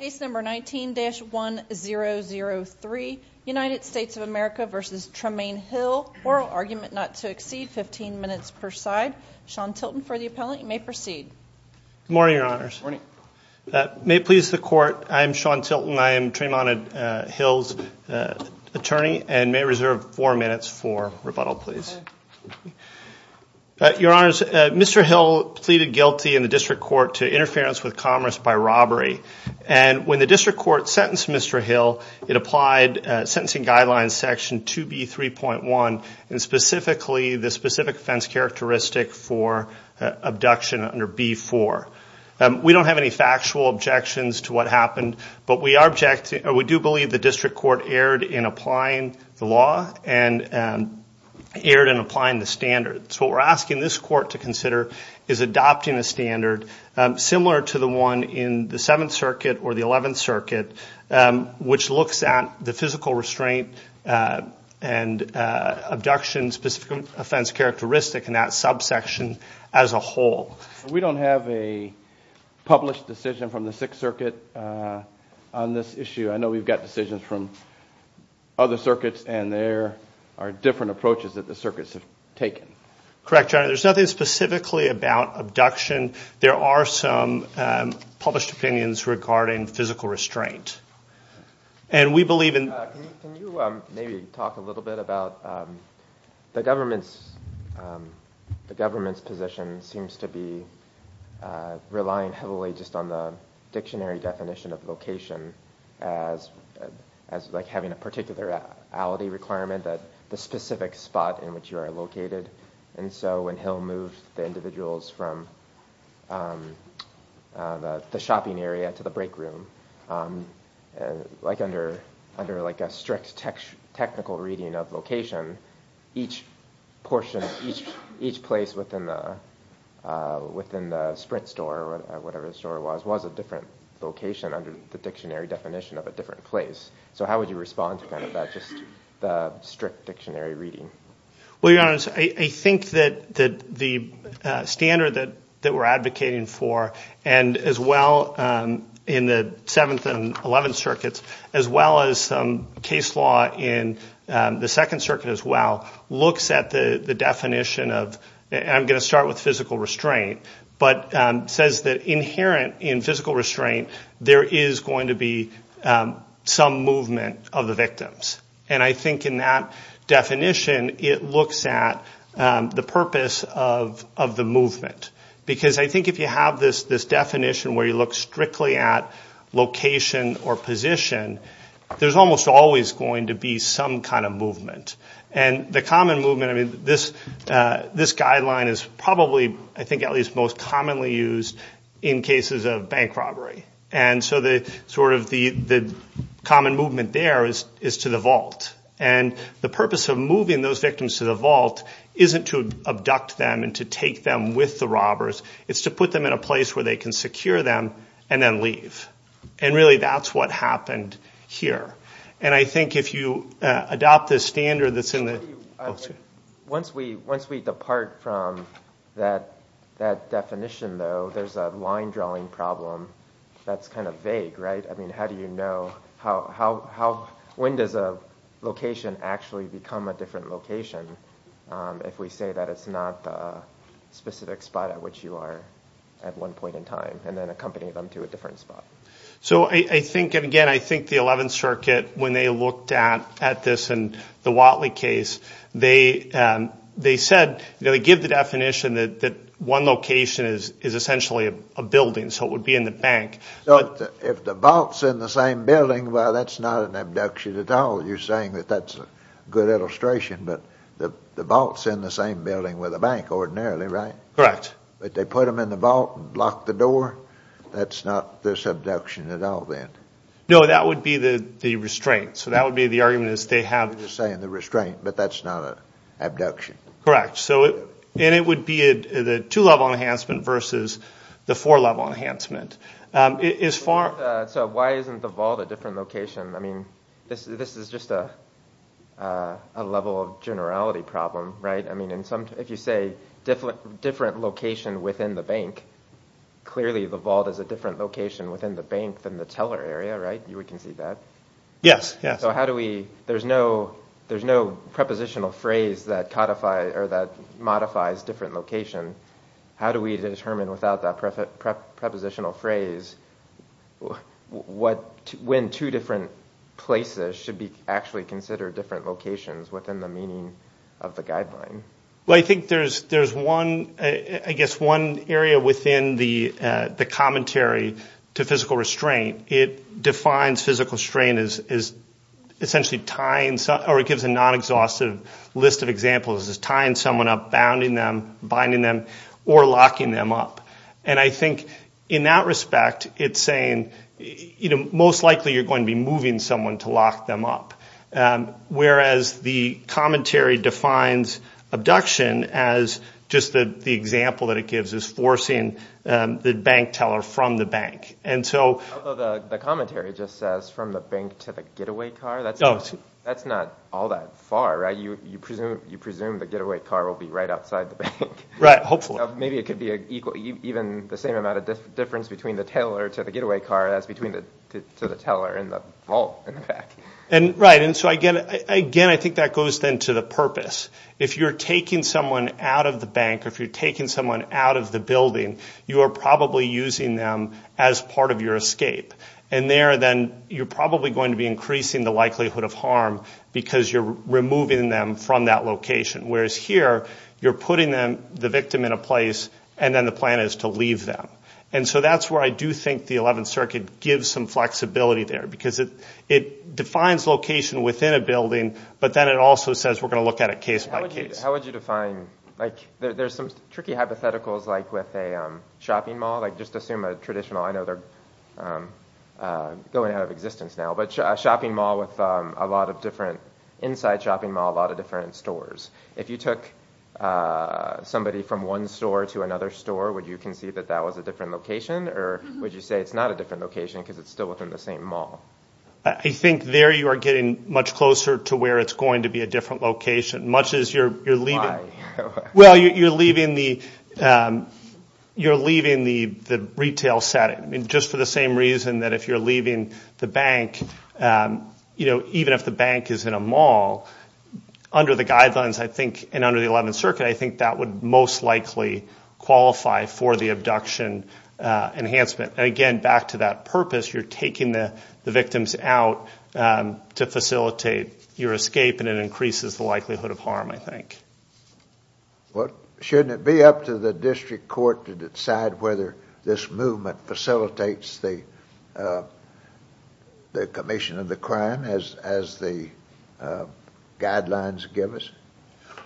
Case number 19-1003, United States of America v. Tramain Hill. Oral argument not to exceed 15 minutes per side. Sean Tilton for the appellant. You may proceed. Good morning, Your Honors. May it please the Court, I am Sean Tilton. I am Tramain Hill's attorney and may reserve four minutes for rebuttal, please. Your Honors, Mr. Hill pleaded guilty in the District Court to interference with commerce by robbery. And when the District Court sentenced Mr. Hill, it applied sentencing guidelines section 2B3.1, and specifically the specific offense characteristic for abduction under B4. We don't have any factual objections to what happened, but we do believe the District Court erred in applying the law and erred in applying the standards. What we're asking this Court to consider is adopting a standard similar to the one in the Seventh Circuit or the Eleventh Circuit, which looks at the physical restraint and abduction specific offense characteristic in that subsection as a whole. We don't have a published decision from the Sixth Circuit on this issue. I know we've got decisions from other circuits, and there are different approaches that the circuits have taken. Correct, Your Honor. There's nothing specifically about abduction. There are some published opinions regarding physical restraint. Can you maybe talk a little bit about the government's position seems to be relying heavily just on the dictionary definition of location as having a particularity requirement that the specific spot in which you are located. And so when Hill moved the individuals from the shopping area to the break room, like under a strict technical reading of location, each portion, each place within the Sprint store or whatever the store was, was a different location under the dictionary definition of a different place. So how would you respond to that, just the strict dictionary reading? Well, Your Honor, I think that the standard that we're advocating for, and as well in the Seventh and Eleventh Circuits, as well as case law in the Second Circuit as well, looks at the definition of, and I'm going to start with physical restraint, but says that inherent in physical restraint, there is going to be some movement of the victims. And I think in that definition, it looks at the purpose of the movement. Because I think if you have this definition where you look strictly at location or position, there's almost always going to be some kind of movement. And the common movement, I mean, this guideline is probably, I think, at least most commonly used in cases of bank robbery. And so sort of the common movement there is to the vault. And the purpose of moving those victims to the vault isn't to abduct them and to take them with the robbers. It's to put them in a place where they can secure them and then leave. And really that's what happened here. And I think if you adopt this standard that's in the – Once we depart from that definition, though, there's a line drawing problem that's kind of vague, right? I mean, how do you know – when does a location actually become a different location if we say that it's not a specific spot at which you are at one point in time and then accompany them to a different spot? So I think – and again, I think the Eleventh Circuit, when they looked at this in the Watley case, they said – they give the definition that one location is essentially a building, so it would be in the bank. So if the vault's in the same building, well, that's not an abduction at all. You're saying that that's a good illustration, but the vault's in the same building with a bank ordinarily, right? Correct. But if they put them in the vault and locked the door, that's not this abduction at all then? No, that would be the restraint. So that would be the argument is they have – I'm just saying the restraint, but that's not an abduction. Correct. And it would be the two-level enhancement versus the four-level enhancement. So why isn't the vault a different location? I mean, this is just a level of generality problem, right? I mean, if you say different location within the bank, clearly the vault is a different location within the bank than the teller area, right? We can see that. Yes, yes. So how do we – there's no prepositional phrase that codifies – or that modifies different location. How do we determine without that prepositional phrase when two different places should actually consider different locations within the meaning of the guideline? Well, I think there's one – I guess one area within the commentary to physical restraint. It defines physical restraint as essentially tying – or it gives a non-exhaustive list of examples as tying someone up, bounding them, binding them, or locking them up. And I think in that respect it's saying most likely you're going to be moving someone to lock them up, whereas the commentary defines abduction as just the example that it gives is forcing the bank teller from the bank. And so – Although the commentary just says from the bank to the getaway car. That's not all that far, right? You presume the getaway car will be right outside the bank. Right, hopefully. Maybe it could be even the same amount of difference between the teller to the getaway car as between the teller and the vault, in fact. Right, and so again I think that goes then to the purpose. If you're taking someone out of the bank or if you're taking someone out of the building, you are probably using them as part of your escape. And there then you're probably going to be increasing the likelihood of harm because you're removing them from that location. Whereas here you're putting the victim in a place and then the plan is to leave them. And so that's where I do think the Eleventh Circuit gives some flexibility there because it defines location within a building, but then it also says we're going to look at it case by case. How would you define – like there's some tricky hypotheticals like with a shopping mall. Like just assume a traditional – I know they're going out of existence now, but a shopping mall with a lot of different – inside a shopping mall a lot of different stores. If you took somebody from one store to another store, would you concede that that was a different location or would you say it's not a different location because it's still within the same mall? I think there you are getting much closer to where it's going to be a different location. Much as you're leaving – Why? Well, you're leaving the retail setting. Just for the same reason that if you're leaving the bank, even if the bank is in a mall, under the guidelines, I think, and under the Eleventh Circuit, I think that would most likely qualify for the abduction enhancement. Again, back to that purpose, you're taking the victims out to facilitate your escape and it increases the likelihood of harm, I think. Well, shouldn't it be up to the district court to decide whether this movement facilitates the commission of the crime as the guidelines give us?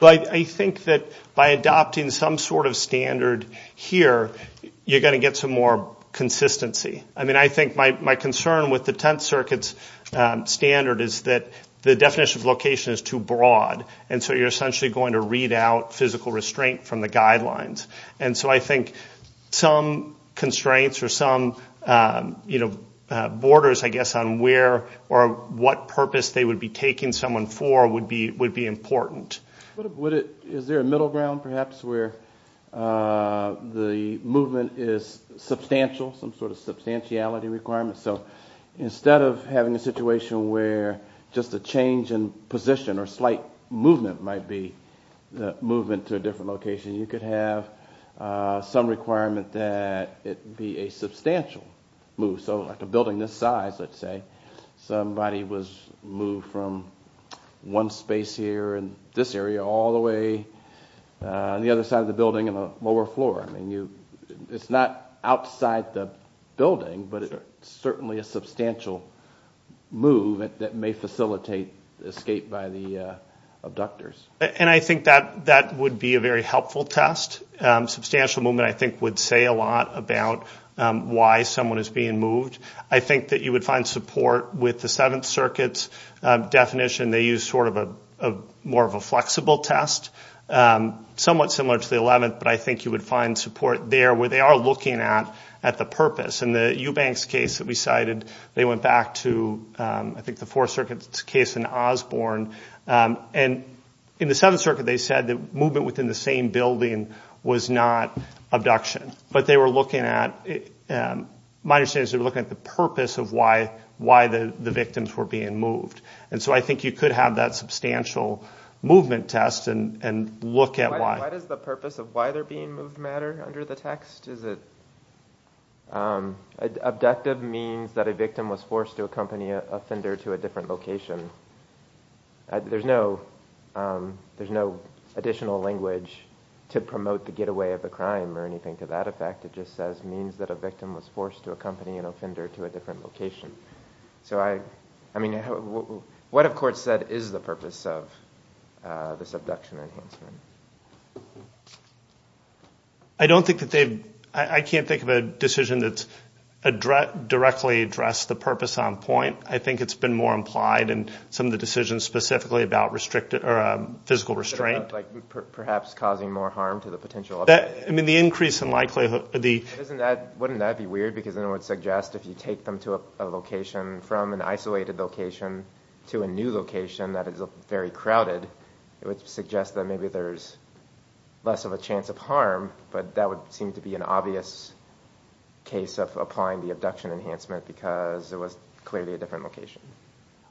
Well, I think that by adopting some sort of standard here, you're going to get some more consistency. I mean, I think my concern with the Tenth Circuit's standard is that the definition of location is too broad, and so you're essentially going to read out physical restraint from the guidelines. And so I think some constraints or some borders, I guess, on where or what purpose they would be taking someone for would be important. Is there a middle ground, perhaps, where the movement is substantial, some sort of substantiality requirement? So instead of having a situation where just a change in position or slight movement might be the movement to a different location, you could have some requirement that it be a substantial move. So like a building this size, let's say, somebody was moved from one space here in this area all the way on the other side of the building on a lower floor. I mean, it's not outside the building, but it's certainly a substantial move that may facilitate escape by the abductors. And I think that would be a very helpful test. Substantial movement, I think, would say a lot about why someone is being moved. I think that you would find support with the Seventh Circuit's definition. They use sort of more of a flexible test, somewhat similar to the Eleventh, but I think you would find support there where they are looking at the purpose. In the Eubanks case that we cited, they went back to, I think, the Fourth Circuit's case in Osborne, and in the Seventh Circuit they said that movement within the same building was not abduction. But they were looking at the purpose of why the victims were being moved. And so I think you could have that substantial movement test and look at why. Why does the purpose of why they're being moved matter under the text? Abductive means that a victim was forced to accompany an offender to a different location. There's no additional language to promote the getaway of a crime or anything to that effect. It just says means that a victim was forced to accompany an offender to a different location. What, of course, is the purpose of this abduction enhancement? I can't think of a decision that's directly addressed the purpose on point. I think it's been more implied in some of the decisions specifically about physical restraint. Perhaps causing more harm to the potential offender? I mean, the increase in likelihood. Wouldn't that be weird because then it would suggest if you take them to a location, from an isolated location to a new location that is very crowded, it would suggest that maybe there's less of a chance of harm. But that would seem to be an obvious case of applying the abduction enhancement because it was clearly a different location.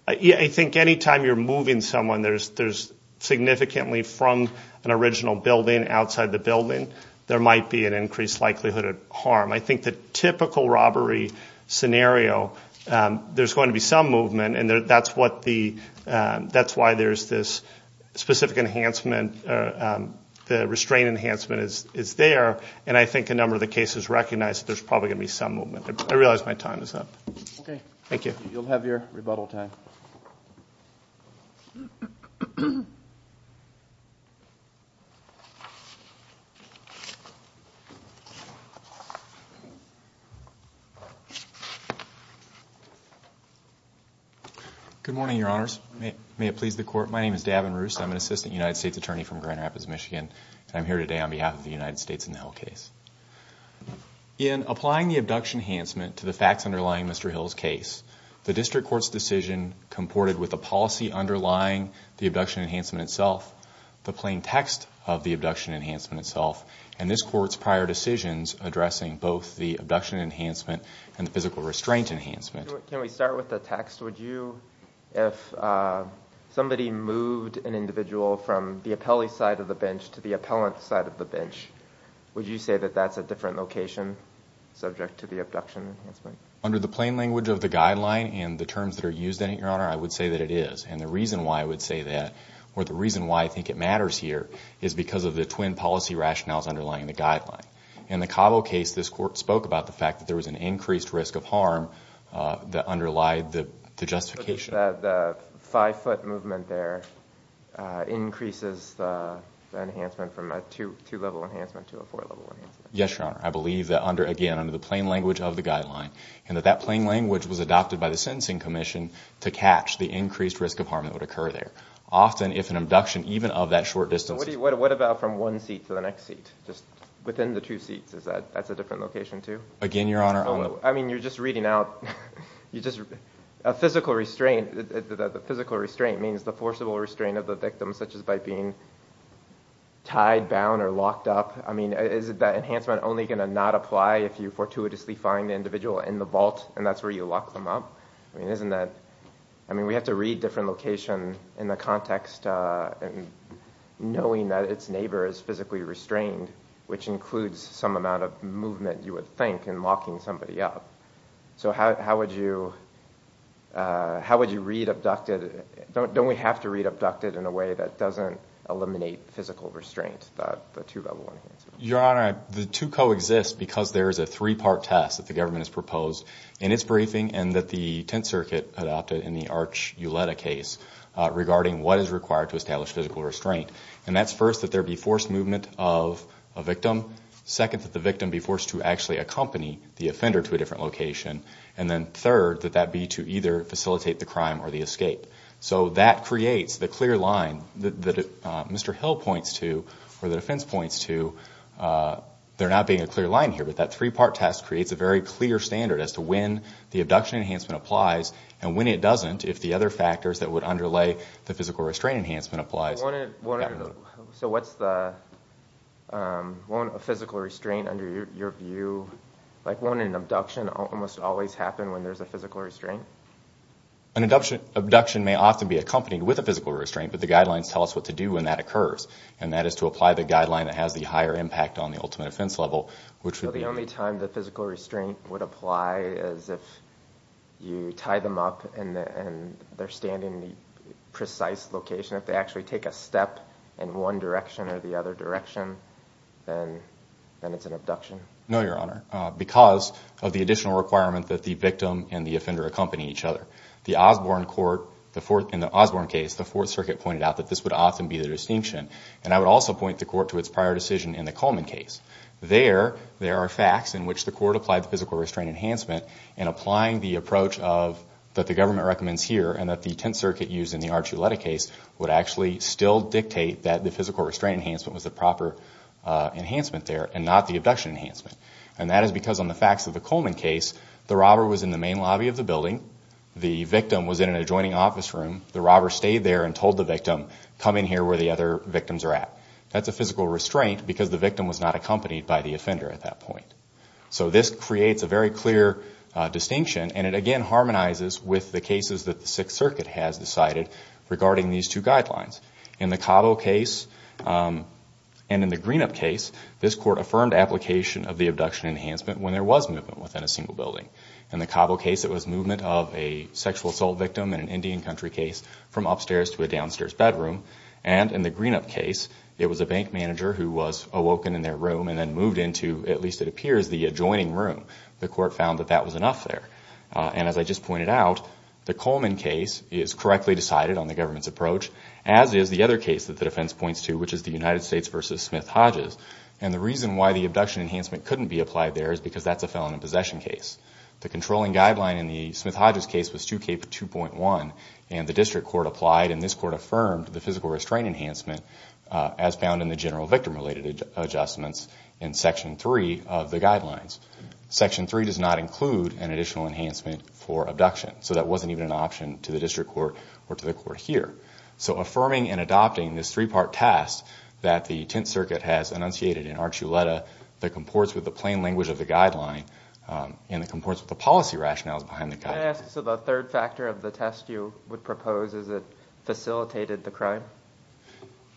I think any time you're moving someone, there's significantly from an original building outside the building, there might be an increased likelihood of harm. I think the typical robbery scenario, there's going to be some movement, and that's why there's this specific enhancement, the restraint enhancement is there, and I think a number of the cases recognize there's probably going to be some movement. I realize my time is up. Okay. Thank you. You'll have your rebuttal time. Good morning, Your Honors. May it please the Court. My name is Davin Roost. I'm an assistant United States attorney from Grand Rapids, Michigan, and I'm here today on behalf of the United States in the Hill case. In applying the abduction enhancement to the facts underlying Mr. Hill's case, the district court's decision comported with a policy underlying the abduction enhancement itself, the plain text of the abduction enhancement itself, and this court's prior decisions addressing both the abduction enhancement and the physical restraint enhancement. Can we start with the text? If somebody moved an individual from the appellee side of the bench to the appellant side of the bench, would you say that that's a different location subject to the abduction enhancement? Under the plain language of the guideline and the terms that are used in it, Your Honor, I would say that it is. And the reason why I would say that, or the reason why I think it matters here, is because of the twin policy rationales underlying the guideline. In the Cabo case, this court spoke about the fact that there was an increased risk of harm that underlied the justification. The five-foot movement there increases the enhancement from a two-level enhancement to a four-level enhancement. Yes, Your Honor. I believe that, again, under the plain language of the guideline, and that that plain language was adopted by the sentencing commission to catch the increased risk of harm that would occur there. Often, if an abduction, even of that short distance. What about from one seat to the next seat, just within the two seats? Is that a different location, too? Again, Your Honor, I mean, you're just reading out a physical restraint. The physical restraint means the forcible restraint of the victim, such as by being tied, bound, or locked up. I mean, is that enhancement only going to not apply if you fortuitously find the individual in the vault, and that's where you lock them up? I mean, we have to read different locations in the context, knowing that its neighbor is physically restrained, which includes some amount of movement, you would think, in locking somebody up. So how would you read abducted? Don't we have to read abducted in a way that doesn't eliminate physical restraint, the two-level enhancement? Your Honor, the two coexist because there is a three-part test that the government has proposed in its briefing and that the Tenth Circuit adopted in the Arch Uletta case regarding what is required to establish physical restraint. And that's first that there be forced movement of a victim, second that the victim be forced to actually accompany the offender to a different location, and then third that that be to either facilitate the crime or the escape. So that creates the clear line that Mr. Hill points to, or the defense points to. There not being a clear line here, but that three-part test creates a very clear standard as to when the abduction enhancement applies and when it doesn't if the other factors that would underlay the physical restraint enhancement applies. So won't a physical restraint under your view, like won't an abduction almost always happen when there's a physical restraint? An abduction may often be accompanied with a physical restraint, but the guidelines tell us what to do when that occurs, and that is to apply the guideline that has the higher impact on the ultimate offense level, So the only time the physical restraint would apply is if you tie them up and they're standing in a precise location. If they actually take a step in one direction or the other direction, then it's an abduction. No, Your Honor, because of the additional requirement that the victim and the offender accompany each other. In the Osborne case, the Fourth Circuit pointed out that this would often be the distinction, and I would also point the court to its prior decision in the Coleman case. There, there are facts in which the court applied the physical restraint enhancement and applying the approach that the government recommends here and that the Tenth Circuit used in the Archuleta case would actually still dictate that the physical restraint enhancement was the proper enhancement there and not the abduction enhancement. And that is because on the facts of the Coleman case, the robber was in the main lobby of the building. The victim was in an adjoining office room. The robber stayed there and told the victim, come in here where the other victims are at. That's a physical restraint because the victim was not accompanied by the offender at that point. So this creates a very clear distinction, and it again harmonizes with the cases that the Sixth Circuit has decided regarding these two guidelines. In the Cabo case and in the Greenup case, this court affirmed application of the abduction enhancement when there was movement within a single building. In the Cabo case, it was movement of a sexual assault victim in an Indian country case from upstairs to a downstairs bedroom. And in the Greenup case, it was a bank manager who was awoken in their room and then moved into, at least it appears, the adjoining room. The court found that that was enough there. And as I just pointed out, the Coleman case is correctly decided on the government's approach, as is the other case that the defense points to, which is the United States v. Smith-Hodges. And the reason why the abduction enhancement couldn't be applied there is because that's a felon in possession case. The controlling guideline in the Smith-Hodges case was 2K2.1, and the district court applied, and this court affirmed the physical restraint enhancement as found in the general victim-related adjustments in Section 3 of the guidelines. Section 3 does not include an additional enhancement for abduction, so that wasn't even an option to the district court or to the court here. So affirming and adopting this three-part test that the Tenth Circuit has enunciated in Arctuleta that comports with the plain language of the guideline and that comports with the policy rationales behind the guideline. Can I ask, so the third factor of the test you would propose, is it facilitated the crime?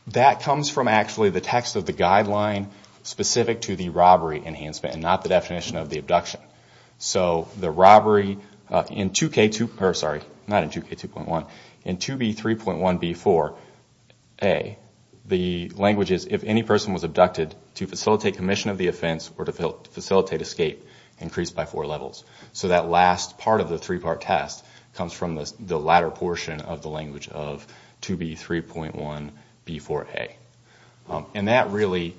That comes from actually the text of the guideline specific to the robbery enhancement and not the definition of the abduction. So the robbery in 2K2, sorry, not in 2K2.1, in 2B3.1b4a, the language is, if any person was abducted, to facilitate commission of the offense or to facilitate escape increased by four levels. So that last part of the three-part test comes from the latter portion of the language of 2B3.1b4a. And that really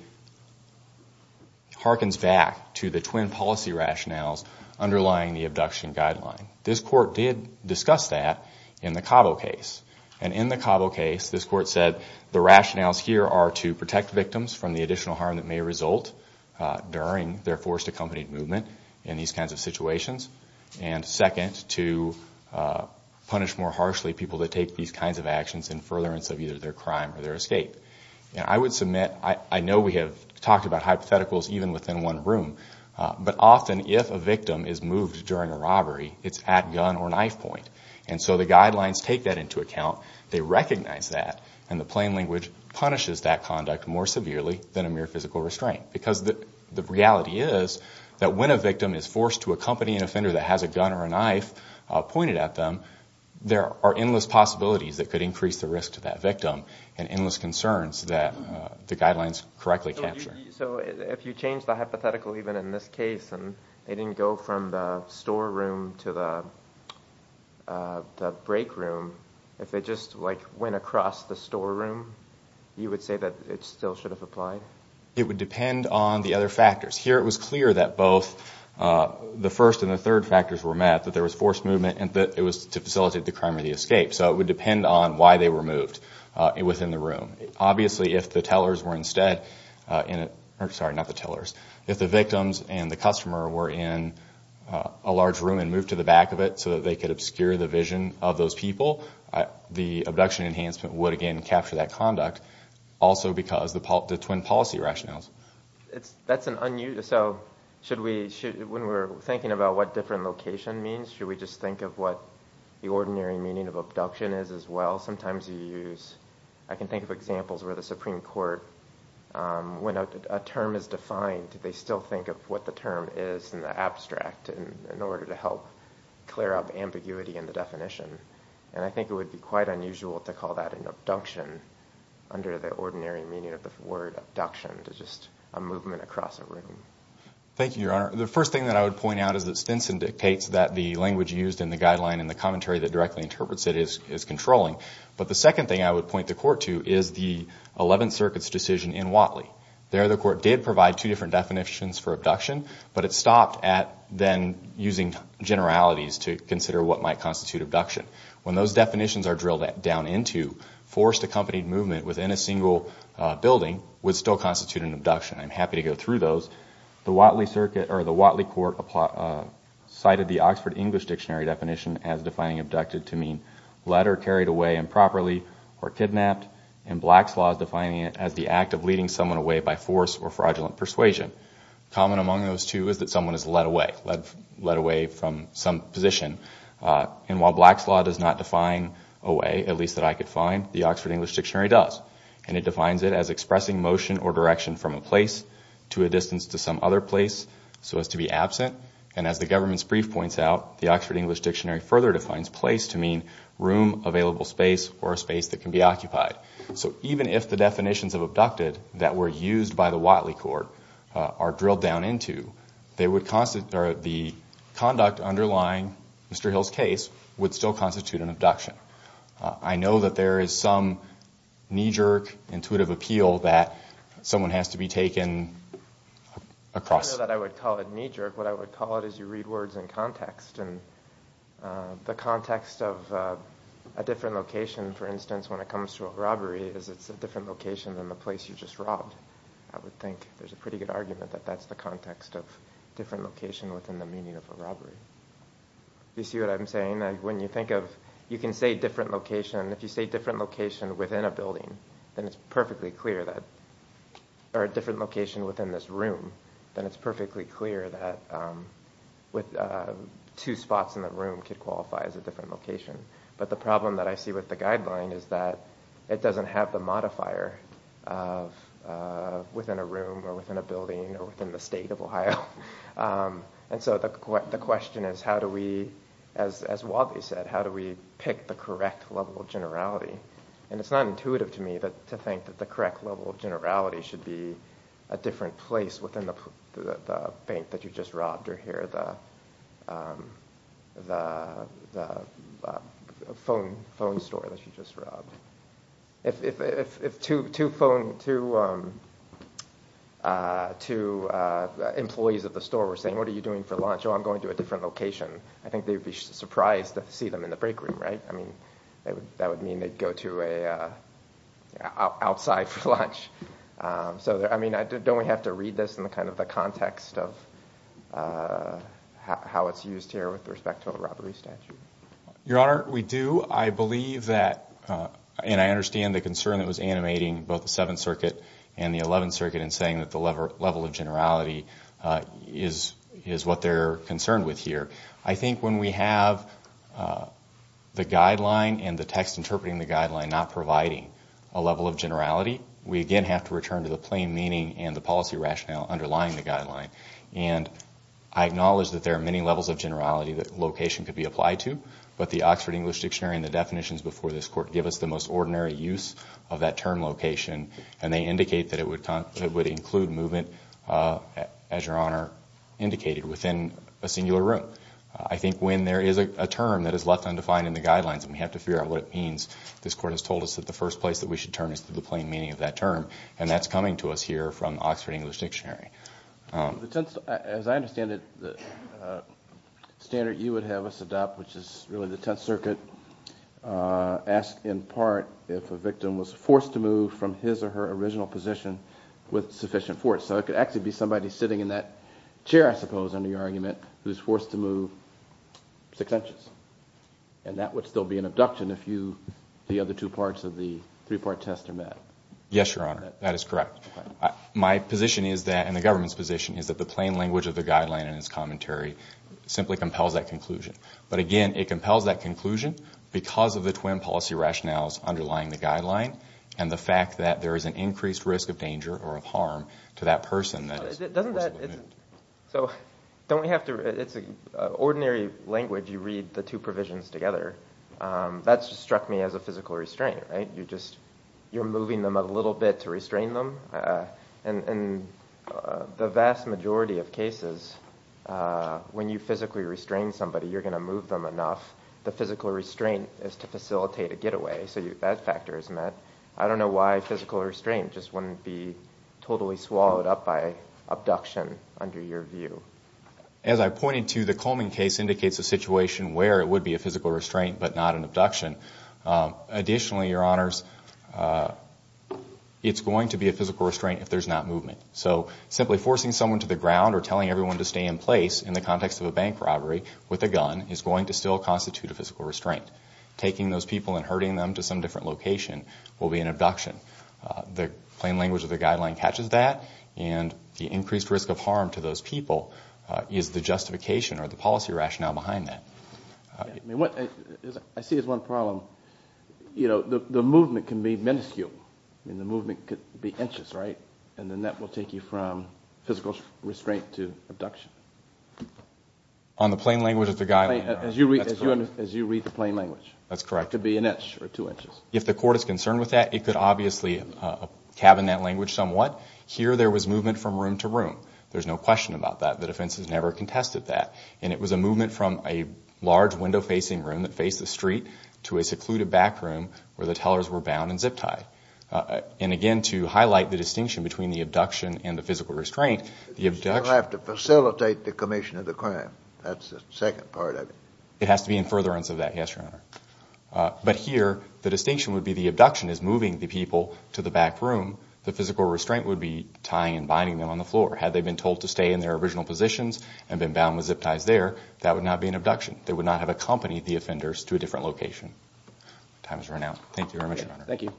harkens back to the twin policy rationales underlying the abduction guideline. This court did discuss that in the Cabo case. And in the Cabo case, this court said the rationales here are to protect victims from the additional harm that may result during their forced accompanied movement in these kinds of situations. And second, to punish more harshly people that take these kinds of actions in furtherance of either their crime or their escape. And I would submit, I know we have talked about hypotheticals even within one room, but often if a victim is moved during a robbery, it's at gun or knife point. And so the guidelines take that into account. They recognize that. And the plain language punishes that conduct more severely than a mere physical restraint. Because the reality is that when a victim is forced to accompany an offender that has a gun or a knife pointed at them, there are endless possibilities that could increase the risk to that victim and endless concerns that the guidelines correctly capture. So if you change the hypothetical even in this case, and they didn't go from the storeroom to the break room, if they just went across the storeroom, you would say that it still should have applied? It would depend on the other factors. Here it was clear that both the first and the third factors were met, that there was forced movement and that it was to facilitate the crime or the escape. So it would depend on why they were moved within the room. Obviously if the tellers were instead in it, sorry, not the tellers, if the victims and the customer were in a large room and moved to the back of it so that they could obscure the vision of those people, the abduction enhancement would again capture that conduct. Also because of the twin policy rationales. So when we're thinking about what different location means, should we just think of what the ordinary meaning of abduction is as well? Sometimes you use, I can think of examples where the Supreme Court, when a term is defined, they still think of what the term is in the abstract in order to help clear up ambiguity in the definition. And I think it would be quite unusual to call that an abduction under the ordinary meaning of the word abduction, to just a movement across a room. Thank you, Your Honor. The first thing that I would point out is that Stinson dictates that the language used in the guideline and the commentary that directly interprets it is controlling. But the second thing I would point the Court to is the Eleventh Circuit's decision in Watley. There the Court did provide two different definitions for abduction, but it stopped at then using generalities to consider what might constitute abduction. When those definitions are drilled down into, forced accompanied movement within a single building would still constitute an abduction. I'm happy to go through those. The Watley Court cited the Oxford English Dictionary definition as defining abducted to mean led or carried away improperly or kidnapped, and Black's Law is defining it as the act of leading someone away by force or fraudulent persuasion. Common among those two is that someone is led away, led away from some position. And while Black's Law does not define away, at least that I could find, the Oxford English Dictionary does, and it defines it as expressing motion or direction from a place to a distance to some other place so as to be absent, and as the government's brief points out, the Oxford English Dictionary further defines place to mean room, available space, or a space that can be occupied. So even if the definitions of abducted that were used by the Watley Court are drilled down into, the conduct underlying Mr. Hill's case would still constitute an abduction. I know that there is some knee-jerk intuitive appeal that someone has to be taken across. I know that I would call it knee-jerk. What I would call it is you read words in context, and the context of a different location, for instance, when it comes to a robbery, is it's a different location than the place you just robbed. I would think there's a pretty good argument that that's the context of different location within the meaning of a robbery. You see what I'm saying? When you think of, you can say different location. If you say different location within a building, then it's perfectly clear that, or a different location within this room, then it's perfectly clear that two spots in the room could qualify as a different location. But the problem that I see with the guideline is that it doesn't have the modifier of within a room or within a building or within the state of Ohio. And so the question is how do we, as Watley said, how do we pick the correct level of generality? And it's not intuitive to me to think that the correct level of generality should be a different place within the bank that you just robbed or here at the phone store that you just robbed. If two employees at the store were saying, what are you doing for lunch? Oh, I'm going to a different location. I think they'd be surprised to see them in the break room, right? I mean, that would mean they'd go outside for lunch. So, I mean, don't we have to read this in kind of the context of how it's used here with respect to a robbery statute? Your Honor, we do. I believe that, and I understand the concern that was animating both the Seventh Circuit and the Eleventh Circuit in saying that the level of generality is what they're concerned with here. I think when we have the guideline and the text interpreting the guideline not providing a level of generality, we again have to return to the plain meaning and the policy rationale underlying the guideline. And I acknowledge that there are many levels of generality that location could be applied to, but the Oxford English Dictionary and the definitions before this Court give us the most ordinary use of that term location, and they indicate that it would include movement, as Your Honor indicated, within a singular room. I think when there is a term that is left undefined in the guidelines and we have to figure out what it means, this Court has told us that the first place that we should turn is to the plain meaning of that term, and that's coming to us here from the Oxford English Dictionary. As I understand it, the standard you would have us adopt, which is really the Tenth Circuit, asks in part if a victim was forced to move from his or her original position with sufficient force. So it could actually be somebody sitting in that chair, I suppose, under your argument, who's forced to move six inches. And that would still be an abduction if the other two parts of the three-part test are met. Yes, Your Honor, that is correct. My position is that, and the government's position, is that the plain language of the guideline and its commentary simply compels that conclusion. But again, it compels that conclusion because of the twin policy rationales underlying the guideline and the fact that there is an increased risk of danger or of harm to that person that is forcibly moved. So, don't we have to, it's an ordinary language, you read the two provisions together. That just struck me as a physical restraint, right? You just, you're moving them a little bit to restrain them. And the vast majority of cases, when you physically restrain somebody, you're going to move them enough. The physical restraint is to facilitate a getaway, so that factor is met. I don't know why physical restraint just wouldn't be totally swallowed up by abduction, under your view. As I pointed to, the Coleman case indicates a situation where it would be a physical restraint but not an abduction. Additionally, Your Honors, it's going to be a physical restraint if there's not movement. So, simply forcing someone to the ground or telling everyone to stay in place, in the context of a bank robbery, with a gun, is going to still constitute a physical restraint. Taking those people and herding them to some different location will be an abduction. The plain language of the guideline catches that. And the increased risk of harm to those people is the justification or the policy rationale behind that. I see as one problem, you know, the movement can be minuscule. I mean, the movement could be inches, right? And then that will take you from physical restraint to abduction. On the plain language of the guideline, Your Honors. As you read the plain language. That's correct. It could be an inch or two inches. If the court is concerned with that, it could obviously cabin that language somewhat. Here, there was movement from room to room. There's no question about that. The defense has never contested that. And it was a movement from a large, window-facing room that faced the street to a secluded back room where the tellers were bound and zip-tied. And again, to highlight the distinction between the abduction and the physical restraint, the abduction You'll have to facilitate the commission of the crime. That's the second part of it. It has to be in furtherance of that, yes, Your Honor. But here, the distinction would be the abduction is moving the people to the back room. The physical restraint would be tying and binding them on the floor. Had they been told to stay in their original positions and been bound with zip-ties there, that would not be an abduction. They would not have accompanied the offenders to a different location. Time has run out. Thank you very much, Your Honor. Thank you.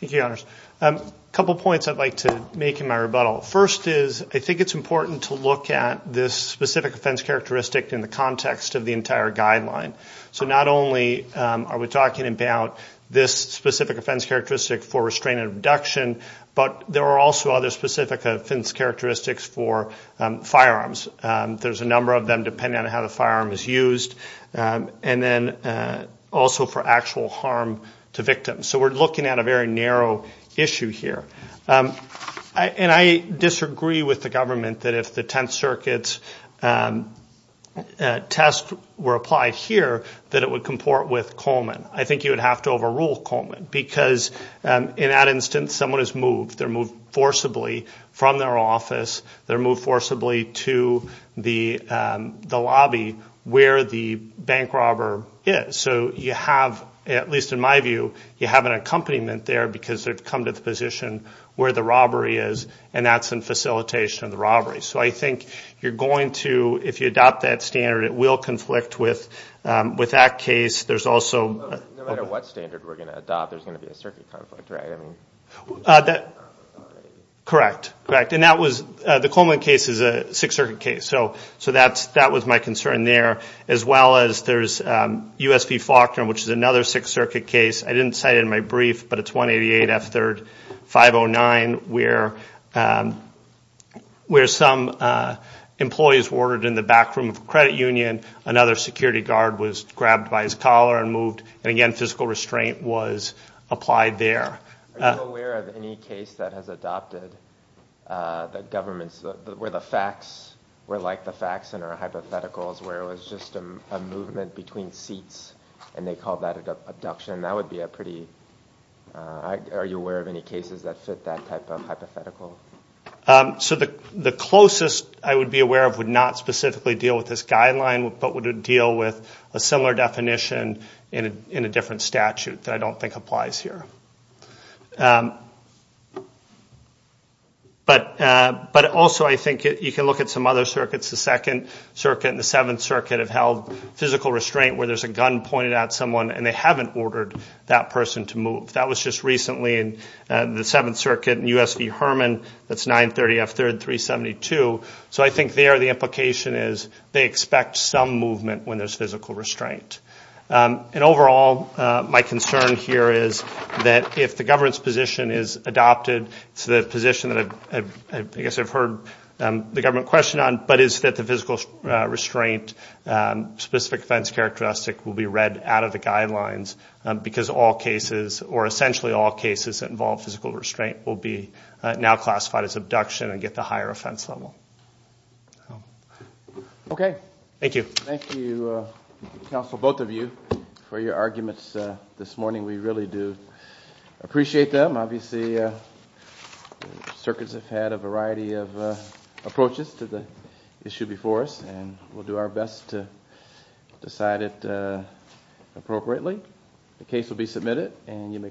Thank you, Your Honors. A couple points I'd like to make in my rebuttal. First is I think it's important to look at this specific offense characteristic in the context of the entire guideline. So not only are we talking about this specific offense characteristic for restraint and abduction, but there are also other specific offense characteristics for firearms. There's a number of them depending on how the firearm is used. And then also for actual harm to victims. So we're looking at a very narrow issue here. And I disagree with the government that if the Tenth Circuit's test were applied here, that it would comport with Coleman. I think you would have to overrule Coleman because in that instance, someone is moved. They're moved forcibly from their office. They're moved forcibly to the lobby where the bank robber is. So you have, at least in my view, you have an accompaniment there because they've come to the position where the robbery is, and that's in facilitation of the robbery. So I think you're going to, if you adopt that standard, it will conflict with that case. There's also – No matter what standard we're going to adopt, there's going to be a circuit conflict, right? Correct. Correct. And that was – the Coleman case is a Sixth Circuit case. So that was my concern there. As well as there's U.S. v. Faulkner, which is another Sixth Circuit case. I didn't cite it in my brief, but it's 188 F. 3rd 509, where some employees were ordered in the back room of a credit union. Another security guard was grabbed by his collar and moved. And again, physical restraint was applied there. Are you aware of any case that has adopted the government's – where the facts were like the facts and are hypotheticals, where it was just a movement between seats and they called that an abduction? That would be a pretty – are you aware of any cases that fit that type of hypothetical? So the closest I would be aware of would not specifically deal with this guideline, but would deal with a similar definition in a different statute that I don't think applies here. But also I think you can look at some other circuits. The Second Circuit and the Seventh Circuit have held physical restraint where there's a gun pointed at someone and they haven't ordered that person to move. That was just recently in the Seventh Circuit in U.S. v. Herman. That's 930 F. 3rd 372. So I think there the implication is they expect some movement when there's physical restraint. And overall, my concern here is that if the government's position is adopted, it's the position that I guess I've heard the government question on, but is that the physical restraint specific offense characteristic will be read out of the guidelines because all cases or essentially all cases that involve physical restraint will be now classified as abduction and get the higher offense level. Okay. Thank you. Thank you, counsel, both of you, for your arguments this morning. We really do appreciate them. Obviously, circuits have had a variety of approaches to the issue before us, and we'll do our best to decide it appropriately. The case will be submitted, and you may call the hearing.